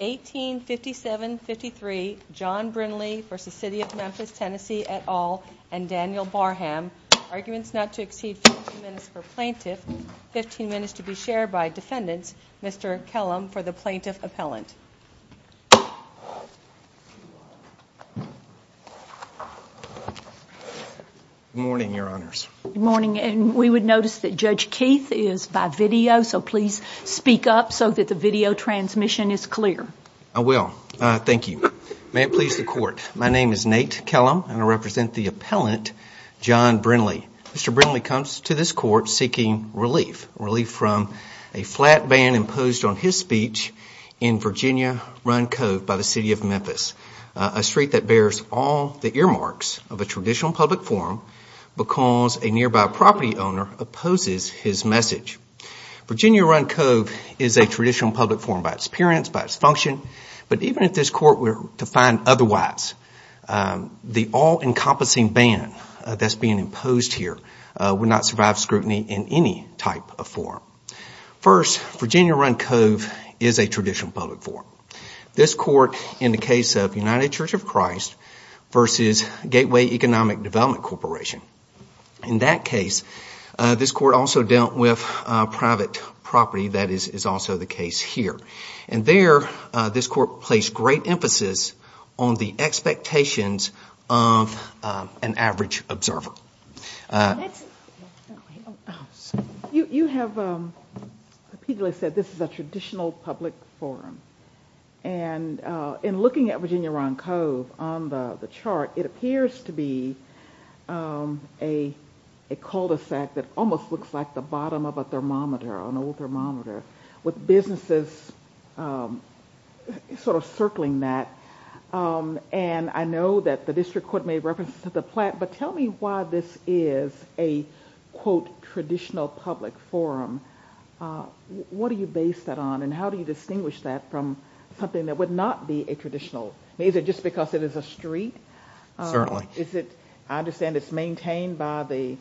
et al, and Daniel Barham. Arguments not to exceed 15 minutes for plaintiff, 15 minutes to be shared by defendants, Mr. Kellum for the plaintiff appellant. Good morning, your honors. Good morning, and we would notice that Judge Keith is by video, so please speak up so that the video transmission is clear. I will. Thank you. May it please the court. My name is Nate Kellum, and I represent the appellant, John Brindley. Mr. Brindley comes to this court seeking relief, relief from a flat ban imposed on his speech in Virginia Run Cove by the City of Memphis, a street that bears all the earmarks of a traditional public forum because a nearby property owner opposes his message. Virginia Run Cove is a traditional public forum by its appearance, by its function, but even if this court were to find otherwise, the all-encompassing ban that's being imposed here would not survive scrutiny in any type of forum. First, Virginia Run Cove is a traditional public forum. This court in the case of United Church of Christ versus Gateway Economic Development Corporation, in that case, this court also dealt with private property that is also the case here. And there, this court placed great emphasis on the expectations of an average observer. You have repeatedly said this is a traditional public forum. And in looking at Virginia Run Cove on the chart, it appears to be a cul-de-sac that almost looks like the bottom of a thermometer, an old thermometer, with businesses sort of circling that. And I know that the district court made reference to the plaque, but tell me why this is a, quote, traditional public forum. What do you base that on and how do you distinguish that from something that would not be a traditional? Is it just because it is a street? Certainly. Is it, I understand it's maintained by the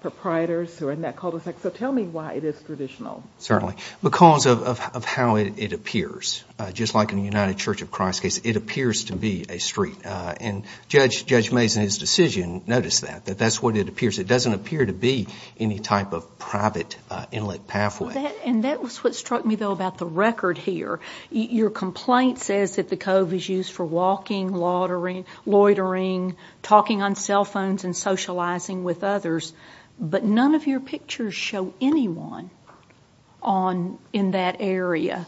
proprietors who are in that cul-de-sac. So tell me why it is traditional. Certainly. Because of how it appears. Just like in the United Church of Christ case, it appears to be a street. And Judge Mayes in his decision noticed that, that that's what it appears. It doesn't appear to be any type of private inlet pathway. And that was what struck me, though, about the record here. Your complaint says that the cove is used for walking, loitering, talking on cell phones and socializing with others. But none of your pictures show anyone on, in that area.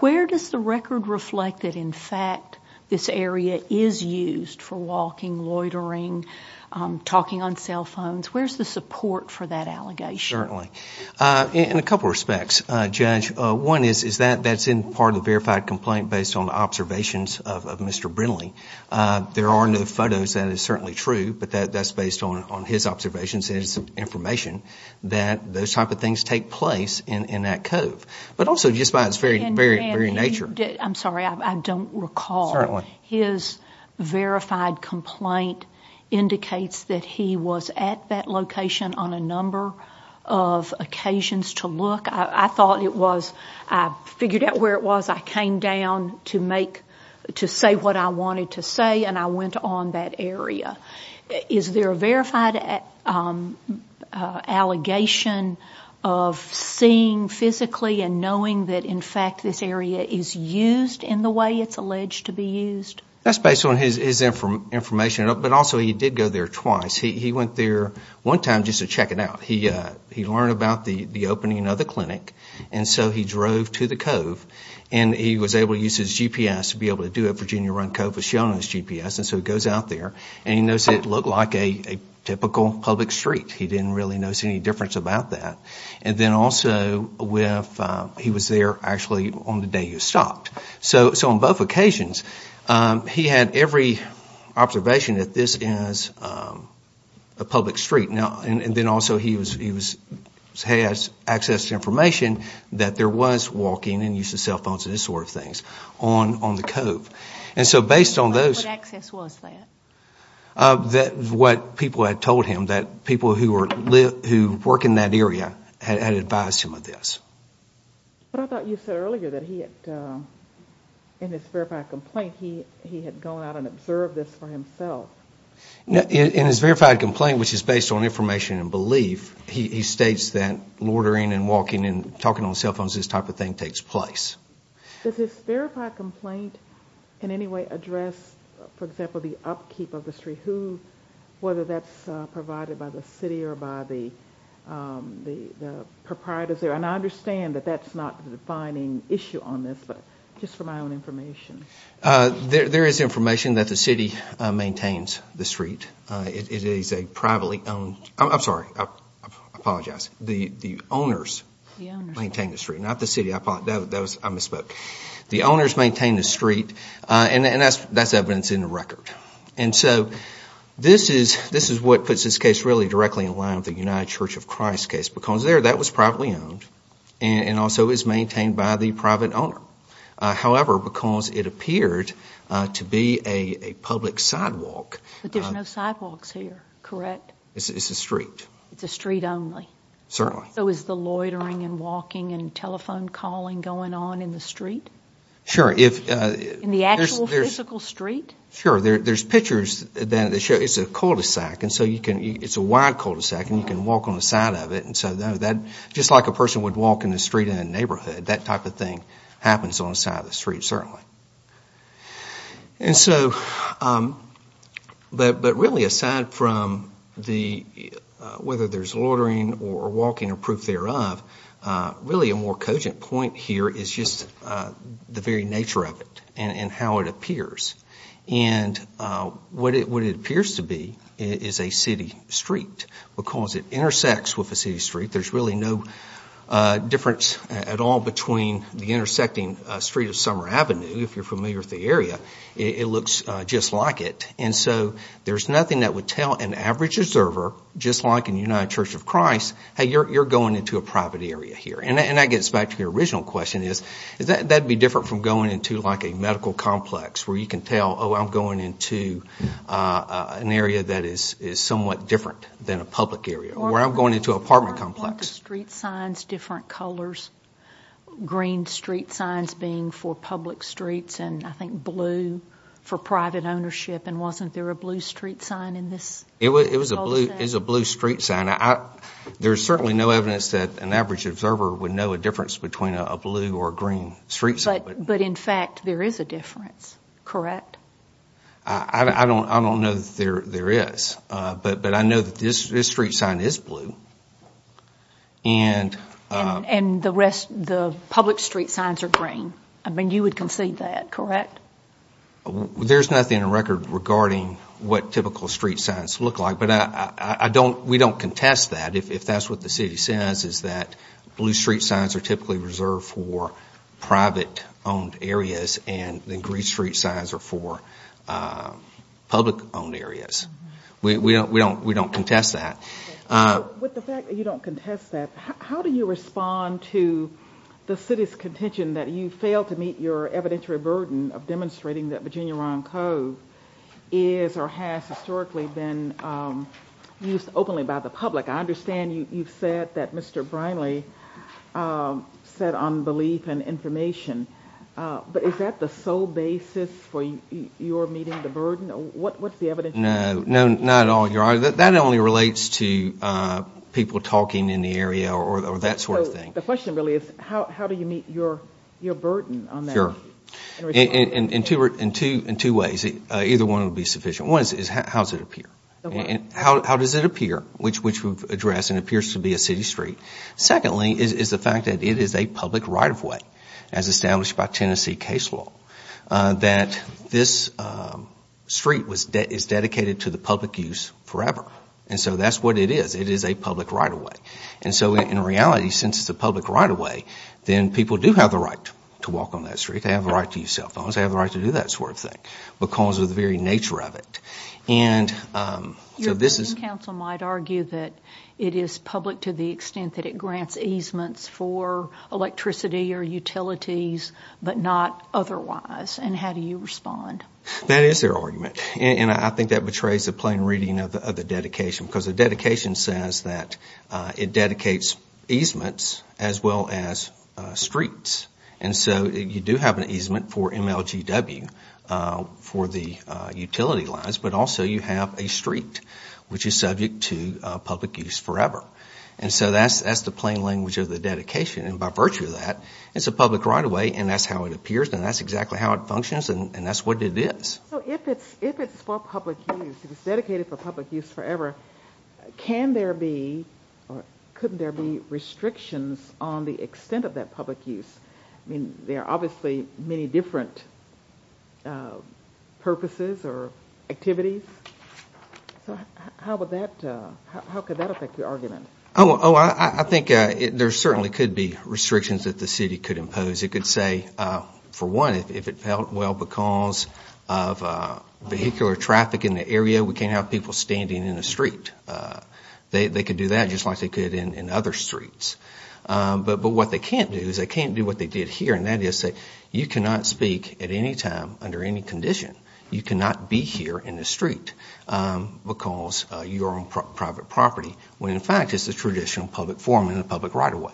Where does the record reflect that, in fact, this area is used for walking, loitering, talking on cell phones? Where's the support for that allegation? Certainly. In a couple of respects, Judge. One is that that's in part of the verified complaint based on observations of Mr. Brindley. There are no photos. That is certainly true. But that's based on his observations, his information, that those type of things take place in that cove. But also just by its very, very, very nature. I'm sorry. I don't recall. Certainly. His verified complaint indicates that he was at that location on a number of occasions to look. I thought it was, I figured out where it was. I came down to make, to say what I went on that area. Is there a verified allegation of seeing physically and knowing that, in fact, this area is used in the way it's alleged to be used? That's based on his information. But also he did go there twice. He went there one time just to check it out. He learned about the opening of the clinic. And so he drove to the cove. And he was able to use his GPS to be able to do it. Virginia Run Cove was shown his GPS. And so he goes out there. And he noticed it looked like a typical public street. He didn't really notice any difference about that. And then also he was there actually on the day you stopped. So on both occasions, he had every observation that this is a public street. And then also he has access to information that there was walking and use of cell phones and this sort of things on the cove. And so based on those... What access was that? What people had told him that people who work in that area had advised him of this. But I thought you said earlier that he had, in his verified complaint, he had gone out and observed this for himself. In his verified complaint, which is based on information and belief, he states that Does his verified complaint in any way address, for example, the upkeep of the street? Whether that's provided by the city or by the proprietors there? And I understand that that's not the defining issue on this, but just for my own information. There is information that the city maintains the street. It is a privately owned... I'm sorry. I apologize. The owners maintain the street, not the city. I misspoke. The owners maintain the street and that's evidence in the record. And so this is what puts this case really directly in line with the United Church of Christ case because there that was privately owned and also is maintained by the private owner. However, because it appeared to be a public sidewalk... But there's no sidewalks here, correct? It's a street. It's a street only. Certainly. So is the loitering and walking and telephone calling going on in the street? Sure. In the actual physical street? Sure. There's pictures that show it's a cul-de-sac. It's a wide cul-de-sac and you can walk on the side of it. Just like a person would walk in the street in a neighborhood, that type of thing happens on the side of the street, certainly. But really, aside from whether there's loitering or walking or proof thereof, really a more cogent point here is just the very nature of it and how it appears. And what it appears to be is a city street because it intersects with a city street. There's really no difference at all between the intersecting street of Summer Avenue, if you're familiar with the area, it looks just like it. And so there's nothing that would tell an average observer, just like in United Church of Christ, hey, you're going into a private area here. And that gets back to your original question is, that would be different from going into like a medical complex where you can tell, oh, I'm going into an area that is somewhat different than a public area. Or I'm going into an apartment complex. But weren't the street signs different colors? Green street signs being for public streets and I think blue for private ownership. And wasn't there a blue street sign in this? It was a blue street sign. There's certainly no evidence that an average observer would know a difference between a blue or green street sign. But in fact, there is a difference, correct? I don't know that there is. But I know that this street sign is blue. And the rest, the public street signs are green. I mean, you would concede that, correct? There's nothing in the record regarding what typical street signs look like. But I don't, we don't contest that. If that's what the city says is that blue street signs are typically reserved for private-owned areas and the green street signs are for public-owned areas. We don't contest that. With the fact that you don't contest that, how do you respond to the city's contention that you failed to meet your evidentiary burden of demonstrating that Virginia Rond Cove is or has historically been used openly by the public? I understand you've said that Mr. Smith, you've said on belief and information. But is that the sole basis for your meeting the burden? What's the evidentiary burden? No, not at all, Your Honor. That only relates to people talking in the area or that sort of thing. The question really is how do you meet your burden on that? Sure. In two ways. Either one would be sufficient. One is how does it appear? How does it appear which we've addressed and appears to be a city street. Secondly is the fact that it is a public right-of-way as established by Tennessee case law. That this street is dedicated to the public use forever. And so that's what it is. It is a public right-of-way. And so in reality, since it's a public right-of-way, then people do have the right to walk on that street. They have the right to use cell phones. They have the right to do that sort of thing because of the very nature of it. Your opinion, counsel, might argue that it is public to the extent that it grants easements for electricity or utilities, but not otherwise. And how do you respond? That is their argument. And I think that betrays the plain reading of the dedication because the dedication says that it dedicates easements as well as streets. And so you do have an easement for MLGW for the utility lines, but also you have a street which is subject to dedication. And by virtue of that, it's a public right-of-way and that's how it appears and that's exactly how it functions and that's what it is. So if it's for public use, if it's dedicated for public use forever, can there be or could there be restrictions on the extent of that public use? I mean, there are obviously many different purposes or activities. So how would that, how could that affect your argument? Oh, I think there certainly could be restrictions that the city could impose. It could say, for one, if it felt well because of vehicular traffic in the area, we can't have people standing in the street. They could do that just like they could in other streets. But what they can't do is they can't do what they did here and that is that you cannot speak at any time under any condition. You cannot be here in the street because you're on private property when, in fact, it's a traditional public forum and a public right-of-way.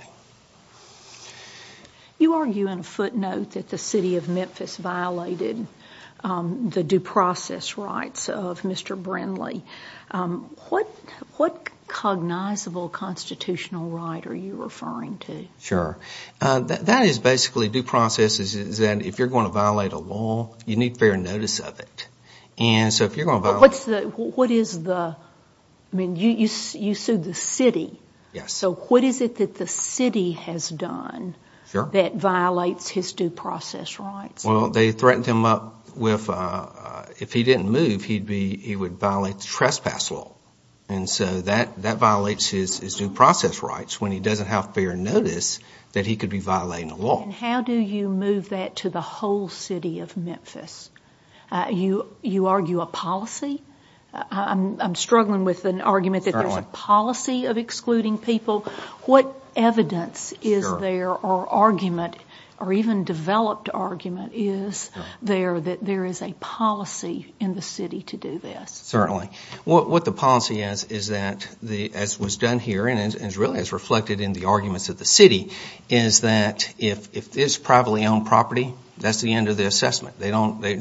You argue in a footnote that the City of Memphis violated the due process rights of Mr. Brindley. What cognizable constitutional right are you referring to? Sure. That is basically due process is that if you're going to violate a law, you need fair notice of it. And so if you're going to violate... What is the, I mean, you sued the city. So what is it that the city has done that violates his due process rights? Well, they threatened him up with, if he didn't move, he'd be, he would violate the trespass law. And so that violates his due process rights when he doesn't have fair notice that he could be violating the law. And how do you move that to the whole city of Memphis? You argue a policy? I'm struggling with an argument that there's a policy of excluding people. What evidence is there or argument or even developed argument is there that there is a policy in the city to do this? Certainly. What the policy is is that, as was done here and is really as reflected in the arguments of the city, is that if it's privately owned property, that's the end of the assessment. They don't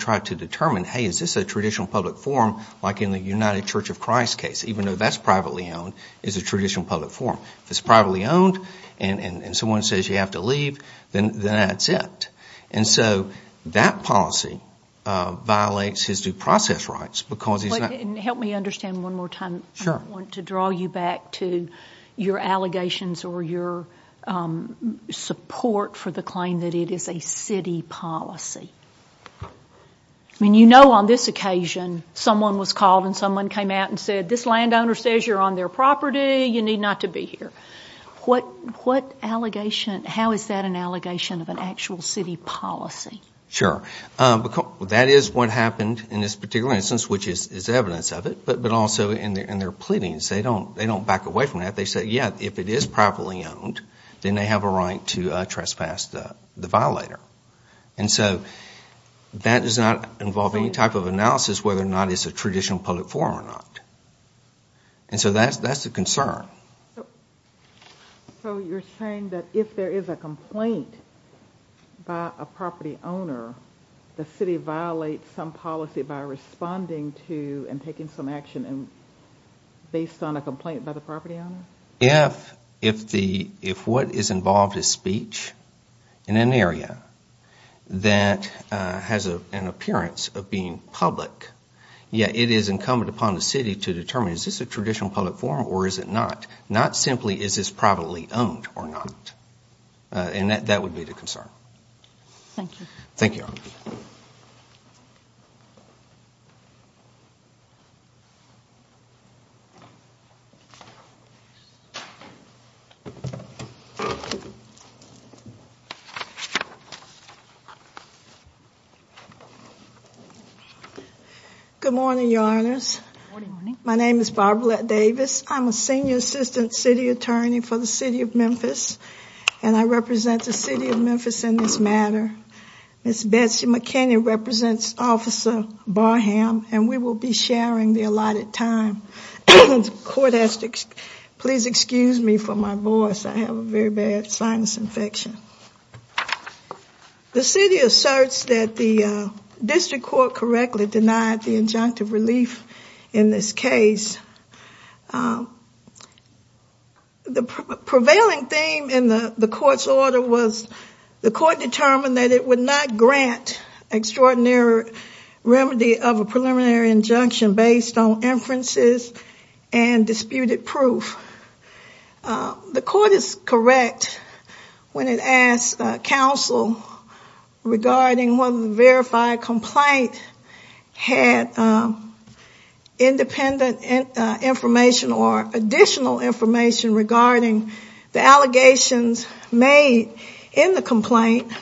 try to determine, hey, is this a traditional public forum like in the United Church of Christ case? Even though that's privately owned, it's a traditional public forum. If it's privately owned and someone says you have to leave, then that's it. And so that policy violates his due process rights because he's not... Help me understand one more time. I want to draw you back to your allegations or your support for the claim that it is a city policy. You know on this occasion someone was called and someone came out and said, this landowner says you're on their property, you need not to be here. How is that an allegation of an actual city policy? Sure. That is what happened in this particular instance, which is evidence of it. But also in their pleadings, they don't back away from that. They say, yeah, if it is privately owned, then they have a right to trespass the violator. And so that does not involve any type of analysis whether or not it's a traditional public forum or not. And so that's the concern. So you're saying that if there is a complaint by a property owner, the city violates some policy by responding to and taking some action based on a complaint by the property owner? If what is involved is speech in an area that has an appearance of being public, yet it is incumbent upon the city to determine is this a traditional public forum or is it not? Not simply is this privately owned or not. And that would be the concern. Good morning, Your Honors. My name is Barbara Davis. I'm a Senior Assistant City Attorney for the City of Memphis, and I represent the City of Memphis in this matter. Ms. Betsy McKinney represents Officer Barham, and we will be sharing the allotted time. Please excuse me for my voice. I have a very bad sinus infection. The city asserts that the district court correctly denied the injunctive relief in this case. The prevailing theme in the court's order was the court determined that it would not grant extraordinary remedy of a preliminary injunction based on inferences and disputed proof. The court is correct when it asks counsel regarding whether the verified complaint had independent information or additional information regarding the allegations made in the complaint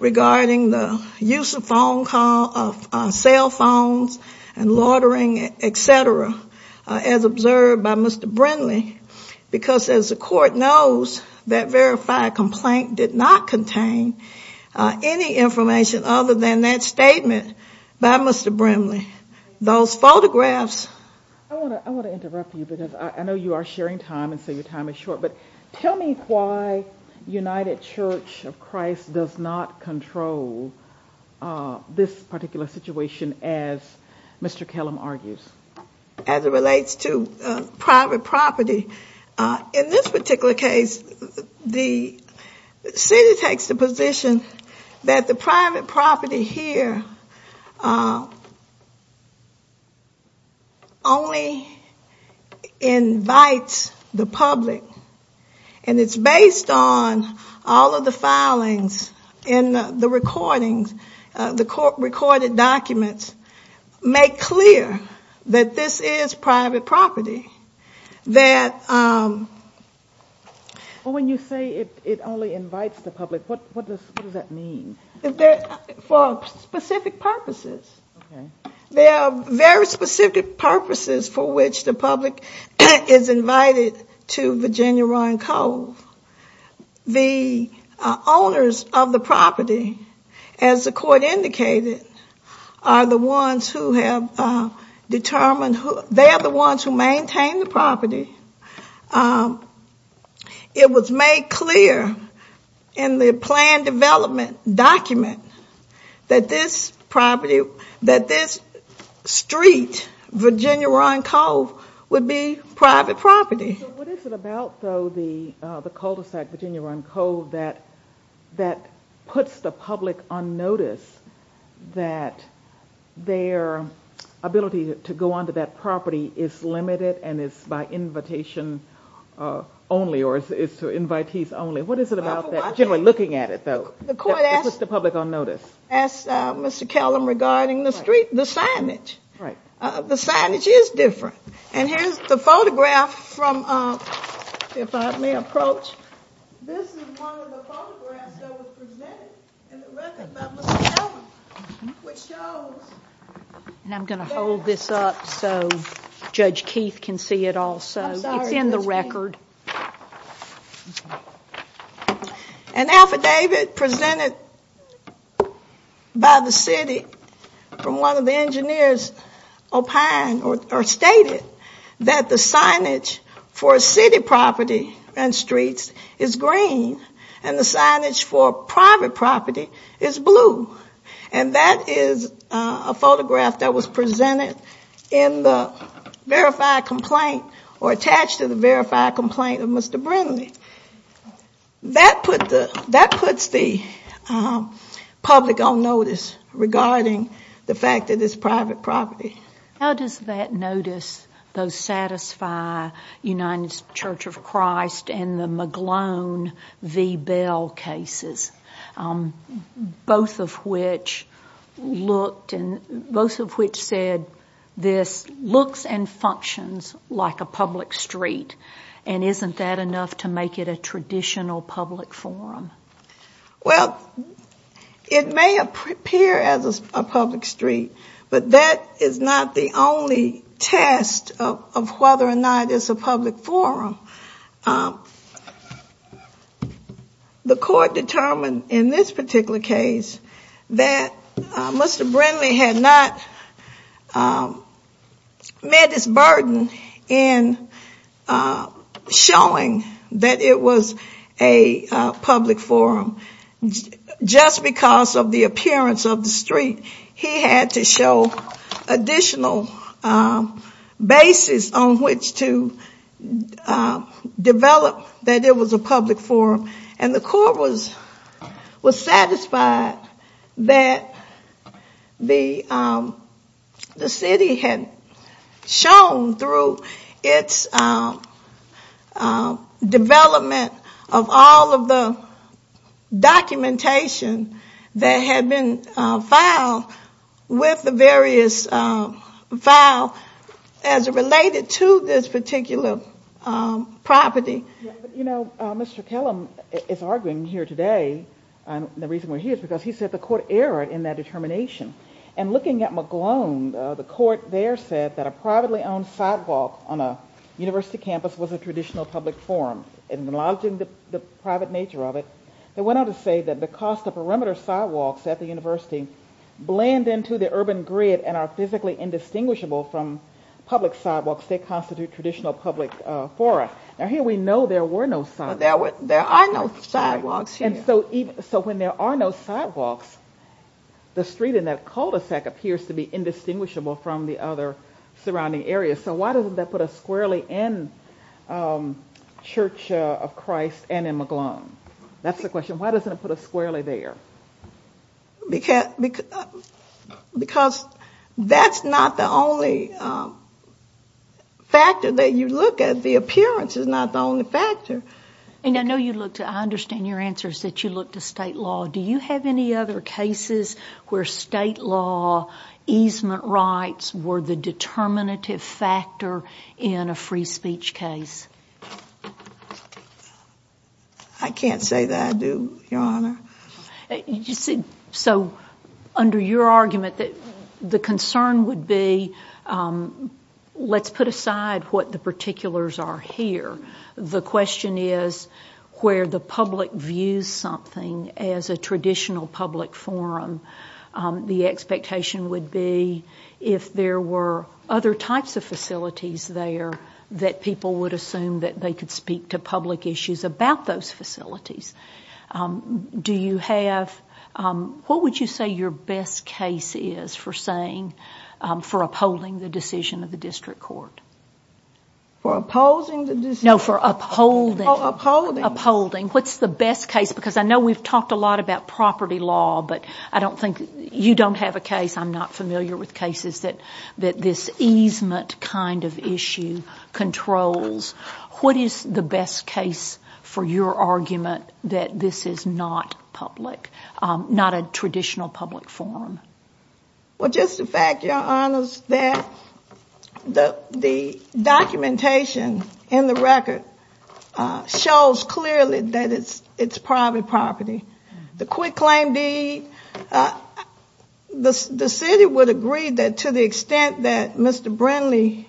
regarding the use of cell phones and loitering, etc., as observed by Mr. Brimley, because as the court knows, that verified complaint did not contain any information other than that statement by Mr. Brimley. Those photographs... I want to interrupt you because I know you are sharing time and so your time is short, but tell me why United Church of Christ does not control this particular situation as Mr. Kellum argues. As it relates to private property, in this particular case, the city takes the position that the private property here only invites the public, and it's based on all of the filings in the recordings. The recorded documents make clear that this is private property. When you say it only invites the public, what does that mean? For specific purposes. There are very specific purposes for which the public is invited to use of the property. As the court indicated, they are the ones who maintain the property. It was made clear in the planned development document that this street, Virginia Run Cove, would be private property. What is it about, though, the cul-de-sac Virginia Run Cove that puts the public on notice that their ability to go onto that property is limited and is by invitation only, or is to invitees only? What is it about that, generally looking at it, though, that puts the public on notice? As Mr. Kellum regarding the street, the signage. The signage is different. Here's the photograph from, if I may approach, this is one of the photographs that was presented in the record by Mr. Kellum, which shows... I'm going to hold this up so Judge Keith can see it also. It's in the record. An affidavit presented by the city from one of the engineers stated that the signage for city property and streets is green and the signage for private property is blue. That is a photograph that was presented in the verified complaint or attached to the verified complaint of Mr. Brindley. That puts the public on notice regarding the fact that it's private property. How does that notice satisfy United Church of Christ and the McGlone v. Bell cases, both of which said this looks and functions like a public street and isn't that enough to make it a traditional public forum? Well, it may appear as a public street, but that is not the only test of whether or not it's a public forum. The court determined in this particular case that Mr. Brindley had not met his burden in showing that it was a public forum. Just because of the appearance of the street, he had to show additional basis on which to develop that it was a public forum. The court was satisfied that the city had shown through its development of all of the documentation that had been filed with the various files as related to this particular property. You know, Mr. Kellum is arguing here today, the reason why he is, because he said the court erred in that determination. And looking at McGlone, the court there said that a privately owned sidewalk on a university campus was a traditional public forum. Acknowledging the private nature of it, they went on to say that because the perimeter sidewalks at the university blend into the urban grid and are physically indistinguishable from public sidewalks, they constitute traditional public fora. Now here we know there were no sidewalks. There are no sidewalks here. So when there are no sidewalks, the street in that cul-de-sac appears to be indistinguishable from the other surrounding areas. So why doesn't that put us squarely in Church of Christ and in McGlone? That's the question. Why doesn't it put us squarely there? Because that's not the only factor that you look at. The appearance is not the only factor. And I know you looked at, I understand your answer is that you looked at state law. Do you have any other cases where state law easement rights were the determinative factor in a free speech case? I can't say that I do, Your Honor. So under your argument, the concern would be, let's put aside what the particulars are here. The question is where the public views something as a traditional public forum, the expectation would be if there were other types of facilities there that people would assume that they could speak to public issues about those facilities. Do you have, what would you say your best case is for saying, for upholding the decision of the district court? For opposing the decision? No, for upholding. Oh, upholding. Upholding. What's the best case? Because I know we've talked a lot about property law, but I don't think, you don't have a case, I'm not familiar with cases that this easement kind of issue controls. What is the best case for your argument that this is not public, not a traditional public forum? Well, just the fact, Your Honors, that the documentation in the record shows clearly that it's private property. The quick claim deed, the city would agree that to the extent that Mr. Brindley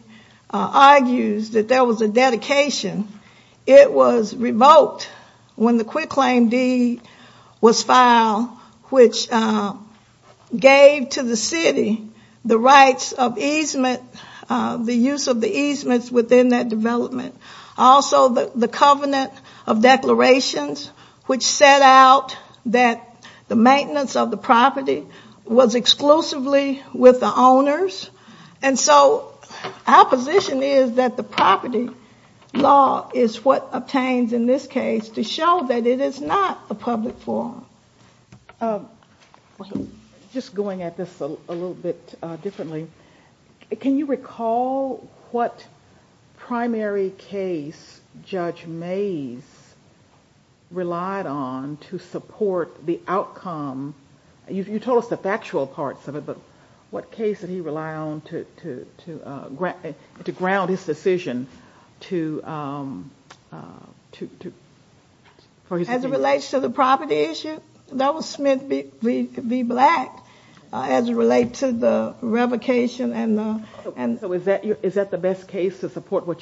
argues that there was a dedication, it was revoked when the quick gave to the city the rights of easement, the use of the easements within that development. Also the covenant of declarations, which set out that the maintenance of the property was exclusively with the owners. And so our position is that the property law is what obtains, in this case, to show that it is not a public forum. Just going at this a little bit differently, can you recall what primary case Judge Mayes relied on to support the outcome? You told us the factual parts of it, but what case did he rely on to ground his decision? As it relates to the property issue, that was Smith v. Black, as it relates to the revocation. Is that the best case to support where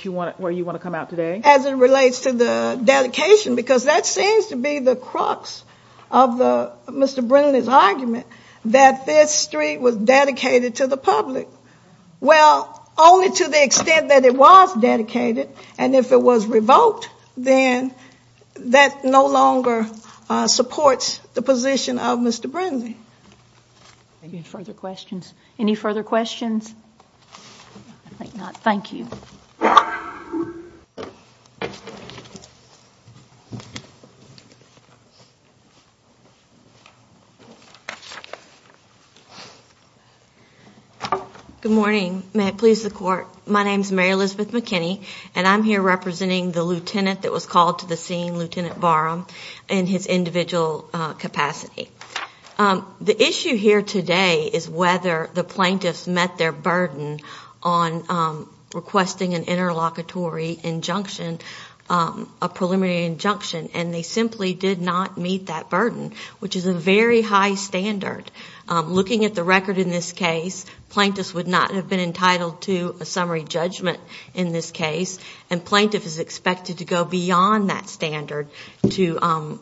you want to come out today? As it relates to the dedication, because that seems to be the crux of Mr. Brindley's argument that this street was dedicated to the public. Well, only to the extent that it was dedicated, and if it was revoked, then that no longer supports the position of Mr. Brindley. Any further questions? I think not. Thank you. Good morning. May it please the Court. My name is Mary Elizabeth McKinney, and I'm here representing the lieutenant that was called to the scene, Lieutenant Barham, in his individual capacity. The issue here today is whether the plaintiffs met their burden on requesting an interlocutory injunction, a preliminary injunction, and they simply did not meet that standard. Looking at the record in this case, plaintiffs would not have been entitled to a summary judgment in this case, and plaintiff is expected to go beyond that standard to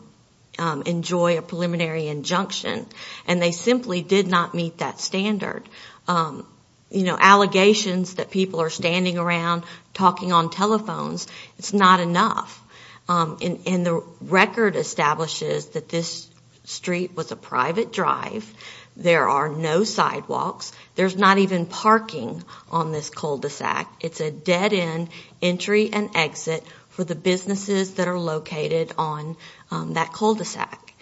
enjoy a preliminary injunction, and they simply did not meet that standard. Allegations that people are standing around talking on telephones, it's not enough. The record establishes that this street was a private drive. There are no sidewalks. There's not even parking on this cul-de-sac. It's a dead-end entry and exit for the businesses that are located on that cul-de-sac,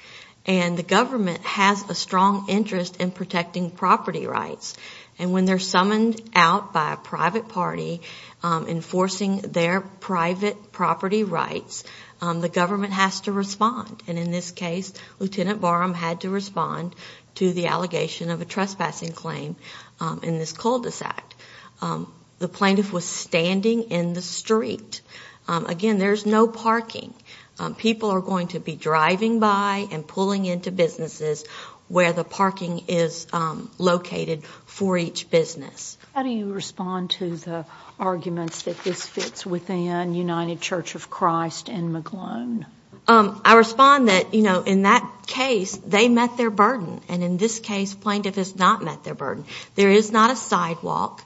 and the government has a strong interest in protecting property rights, and when they're summoned out by a private party enforcing their private property rights, the government has to respond, and in this case, Lieutenant Barham had to respond to the allegation of a trespassing claim in this cul-de-sac. The plaintiff was standing in the street. Again, there's no parking. People are going to be driving by and pulling into businesses where the parking is located for each business. How do you respond to the arguments that this fits within United Church of Christ and McGlone? I respond that, you know, in that case, they met their burden, and in this case, plaintiff has not met their burden. There is not a sidewalk.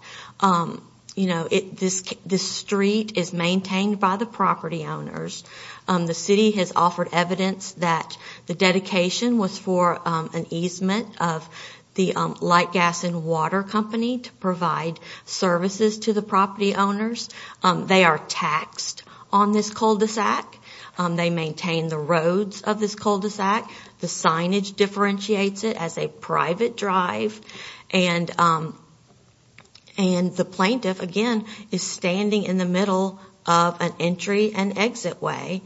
You know, this street is maintained by the property owners. The city has offered evidence that the dedication was for an easement of the light, gas, and water company to provide services to the property owners. They are taxed on this cul-de-sac. They maintain the roads of this cul-de-sac. The signage differentiates it as a private drive, and the plaintiff, again, is standing in the middle of an entry and exit way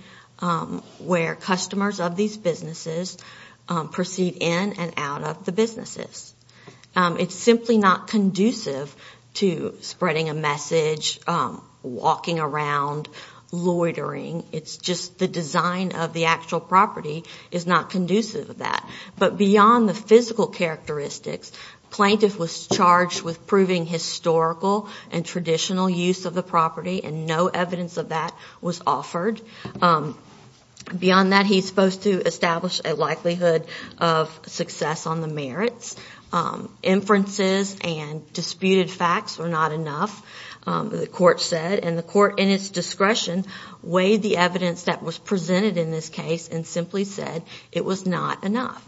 where customers of these businesses proceed in and out of the businesses. It's simply not conducive to spreading a message, walking around, loitering. It's just the design of the actual property is not conducive to that. But beyond the physical characteristics, plaintiff was charged with proving historical and traditional use of the property, and no evidence of that was offered. Beyond that, he's supposed to establish a likelihood of inferences and disputed facts were not enough, the court said. And the court, in its discretion, weighed the evidence that was presented in this case and simply said it was not enough.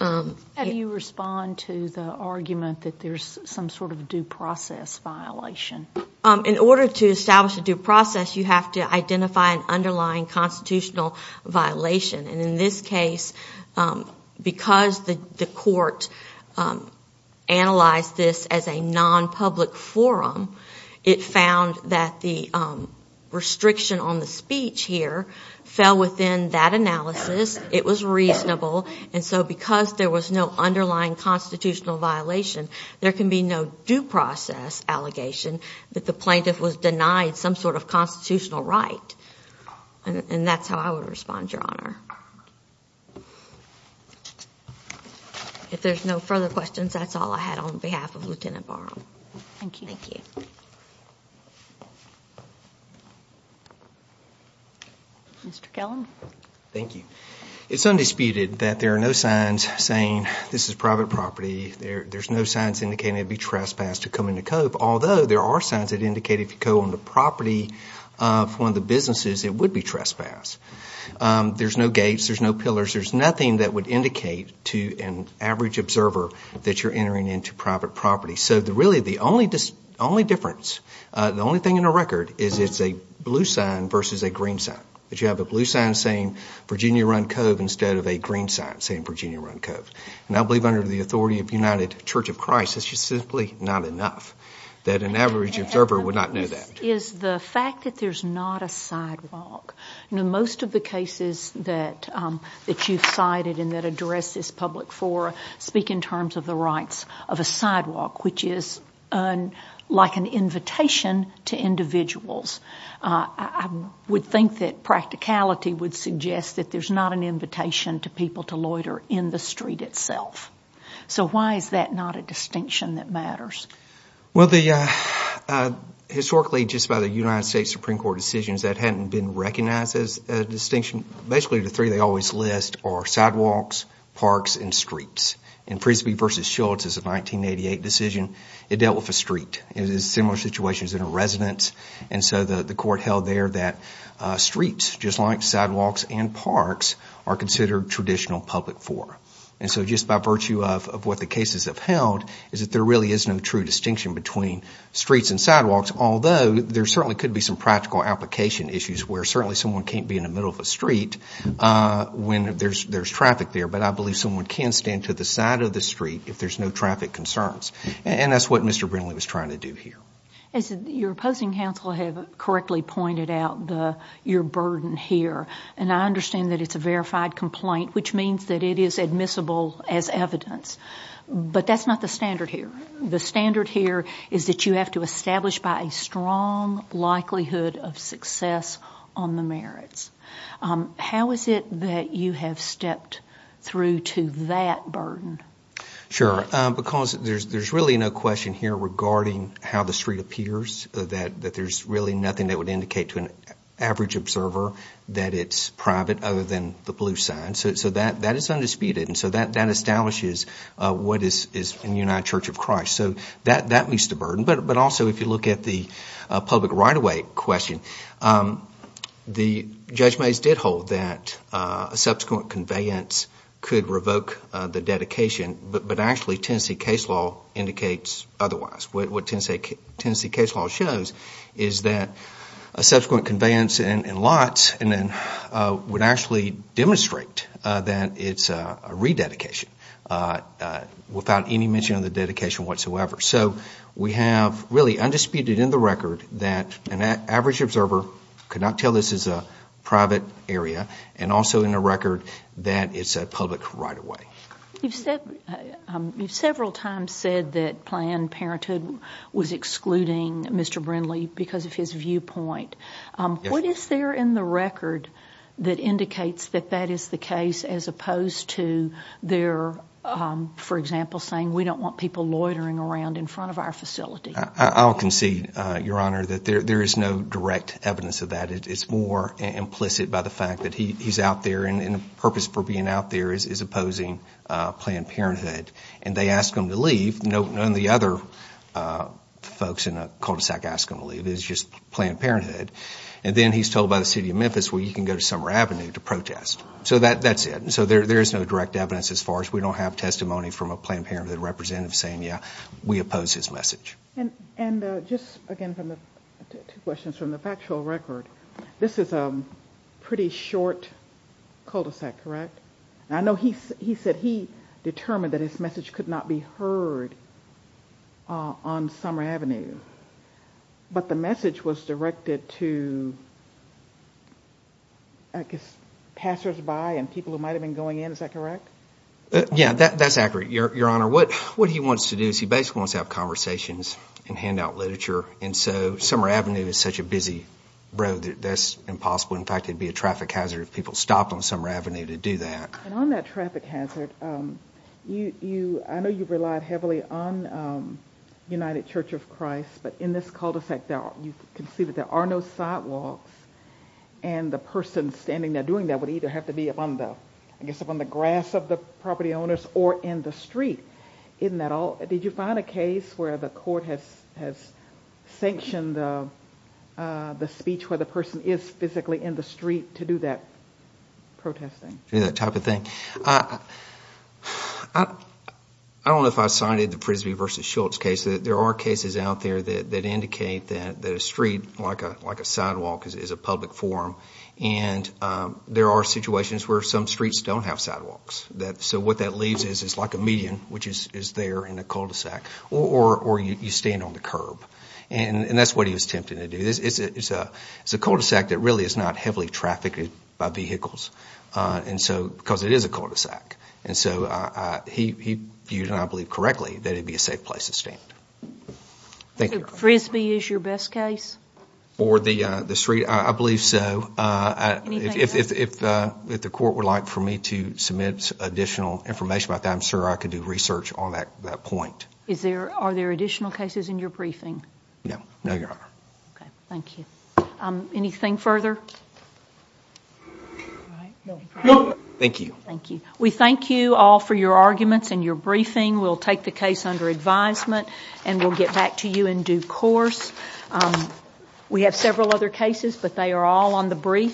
How do you respond to the argument that there's some sort of due process violation? In order to establish a due process, you have to identify an underlying constitutional violation. And in this case, because the court analyzed this as a non-public forum, it found that the restriction on the speech here fell within that analysis. It was reasonable. And so because there was no underlying constitutional violation, there can be no due process allegation that the plaintiff was denied some sort of constitutional right. And that's how I would respond, Your Honor. If there's no further questions, that's all I had on behalf of Lieutenant Barham. Thank you. Mr. Kellen. Thank you. It's undisputed that there are no signs saying this is private property. There's no signs indicating it would be trespassed to come into Cove, although there are signs that indicate if you go on the property of one of the businesses, it would be trespassed. There's no gates. There's no pillars. There's nothing that would indicate to an average observer that you're entering into private property. So really the only difference, the only thing in the record is it's a blue sign versus a green sign. That you have a blue sign saying Virginia-run Cove instead of a green sign saying Virginia-run Cove. And I believe under the authority of United Church of Christ, it's just simply not enough that an average observer would not know that. The fact that there's not a sidewalk. Most of the cases that you've cited and that address this public forum speak in terms of the rights of a sidewalk, which is like an invitation to individuals. I would think that practicality would suggest that there's not an invitation to people to loiter in the street itself. So why is that not a distinction that matters? Well the, historically just by the United States Supreme Court decisions, that hadn't been recognized as a distinction. Basically the three they always list are sidewalks, parks and streets. In Frisbee v. Schulz, it's a 1988 decision. It dealt with a street. It is similar situations in a residence. And so the court held there that streets, just like sidewalks and parks, are considered traditional public forum. And so just by virtue of what the cases have held, is that there really is no true distinction between streets and sidewalks. Although there certainly could be some practical application issues where certainly someone can't be in the middle of the street when there's traffic there. But I believe someone can stand to the side of the street if there's no traffic concerns. And that's what Mr. Brindley was trying to do here. As your opposing counsel have correctly pointed out, your burden here. And I understand that it's a verified complaint, which means that it is admissible as evidence. But that's not the standard here. The standard here is that you have to establish by a strong likelihood of success on the merits. How is it that you have stepped through to that burden? Sure. Because there's really no question here regarding how the street appears. That there's really nothing that would indicate to an average observer that it's private other than the blue sign. So that is undisputed. And so that establishes what is in the United Church of Christ. So that meets the burden. But also if you look at the public right-of-way question, the Judge Mays did hold that subsequent conveyance could revoke the dedication. But actually Tennessee case law indicates otherwise. What Tennessee case law shows is that a subsequent conveyance in lots would actually demonstrate that it's a rededication without any mention of the dedication whatsoever. So we have really undisputed in the record that an average observer could not tell this is a private area and also in the record that it's a public right-of-way. You've several times said that Planned Parenthood was excluding Mr. Brindley because of his viewpoint. What is there in the record that indicates that that is the case as opposed to their, for example, saying we don't want people loitering around in front of our facility? I'll concede, Your Honor, that there is no direct evidence of that. It's more implicit by the fact that he's out there and the purpose for being out there is opposing Planned Parenthood. And they ask him to leave. None of the other folks in the cul-de-sac ask him to leave. It's just Planned Parenthood. And then he's told by the City of Memphis, well, you can go to Summer Avenue to protest. So that's it. So there is no direct evidence as far as we don't have testimony from a Planned Parenthood representative saying, yeah, we oppose his message. And just again, two questions from the factual record. This is a pretty short cul-de-sac, correct? I know he said he determined that his message could not be heard on Summer Avenue. But the message was directed to, I guess, passersby and people who might have been going in. Is that correct? Yeah, that's accurate, Your Honor. What he wants to do is he basically wants to have conversations and hand out literature. And so Summer Avenue is such a busy road that that's impossible. In fact, it'd be a traffic hazard if people stopped on Summer Avenue to do that. And on that traffic hazard, I know you've relied heavily on United Church of Christ. But in this cul-de-sac, you can see that there are no sidewalks. And the person standing there doing that would either have to be up on the grass of the property owners or in the street. Isn't that all? Did you find a case where the court has sanctioned the speech where the person is physically in the street to do that protesting? That type of thing? I don't know if I've cited the Frisbee v. Schultz case. There are cases out there that indicate that a street, like a sidewalk, is a public forum. And there are situations where some streets don't have sidewalks. So what that leaves is it's like a median, which is there in a cul-de-sac, or you stand on the curb. And that's what he was attempting to do. It's a cul-de-sac that really is not heavily trafficked by vehicles because it is a cul-de-sac. And so he viewed, and I believe correctly, that it'd be a safe place to stand. So Frisbee is your best case? For the street, I believe so. Anything else? If the court would like for me to submit additional information about that, I'm sure I can do research on that point. Are there additional cases in your briefing? No, no, Your Honor. Okay, thank you. Anything further? No, thank you. Thank you. We thank you all for your arguments and your briefing. We'll take the case under advisement, and we'll get back to you in due course. We have several other cases, but they are all on the briefs.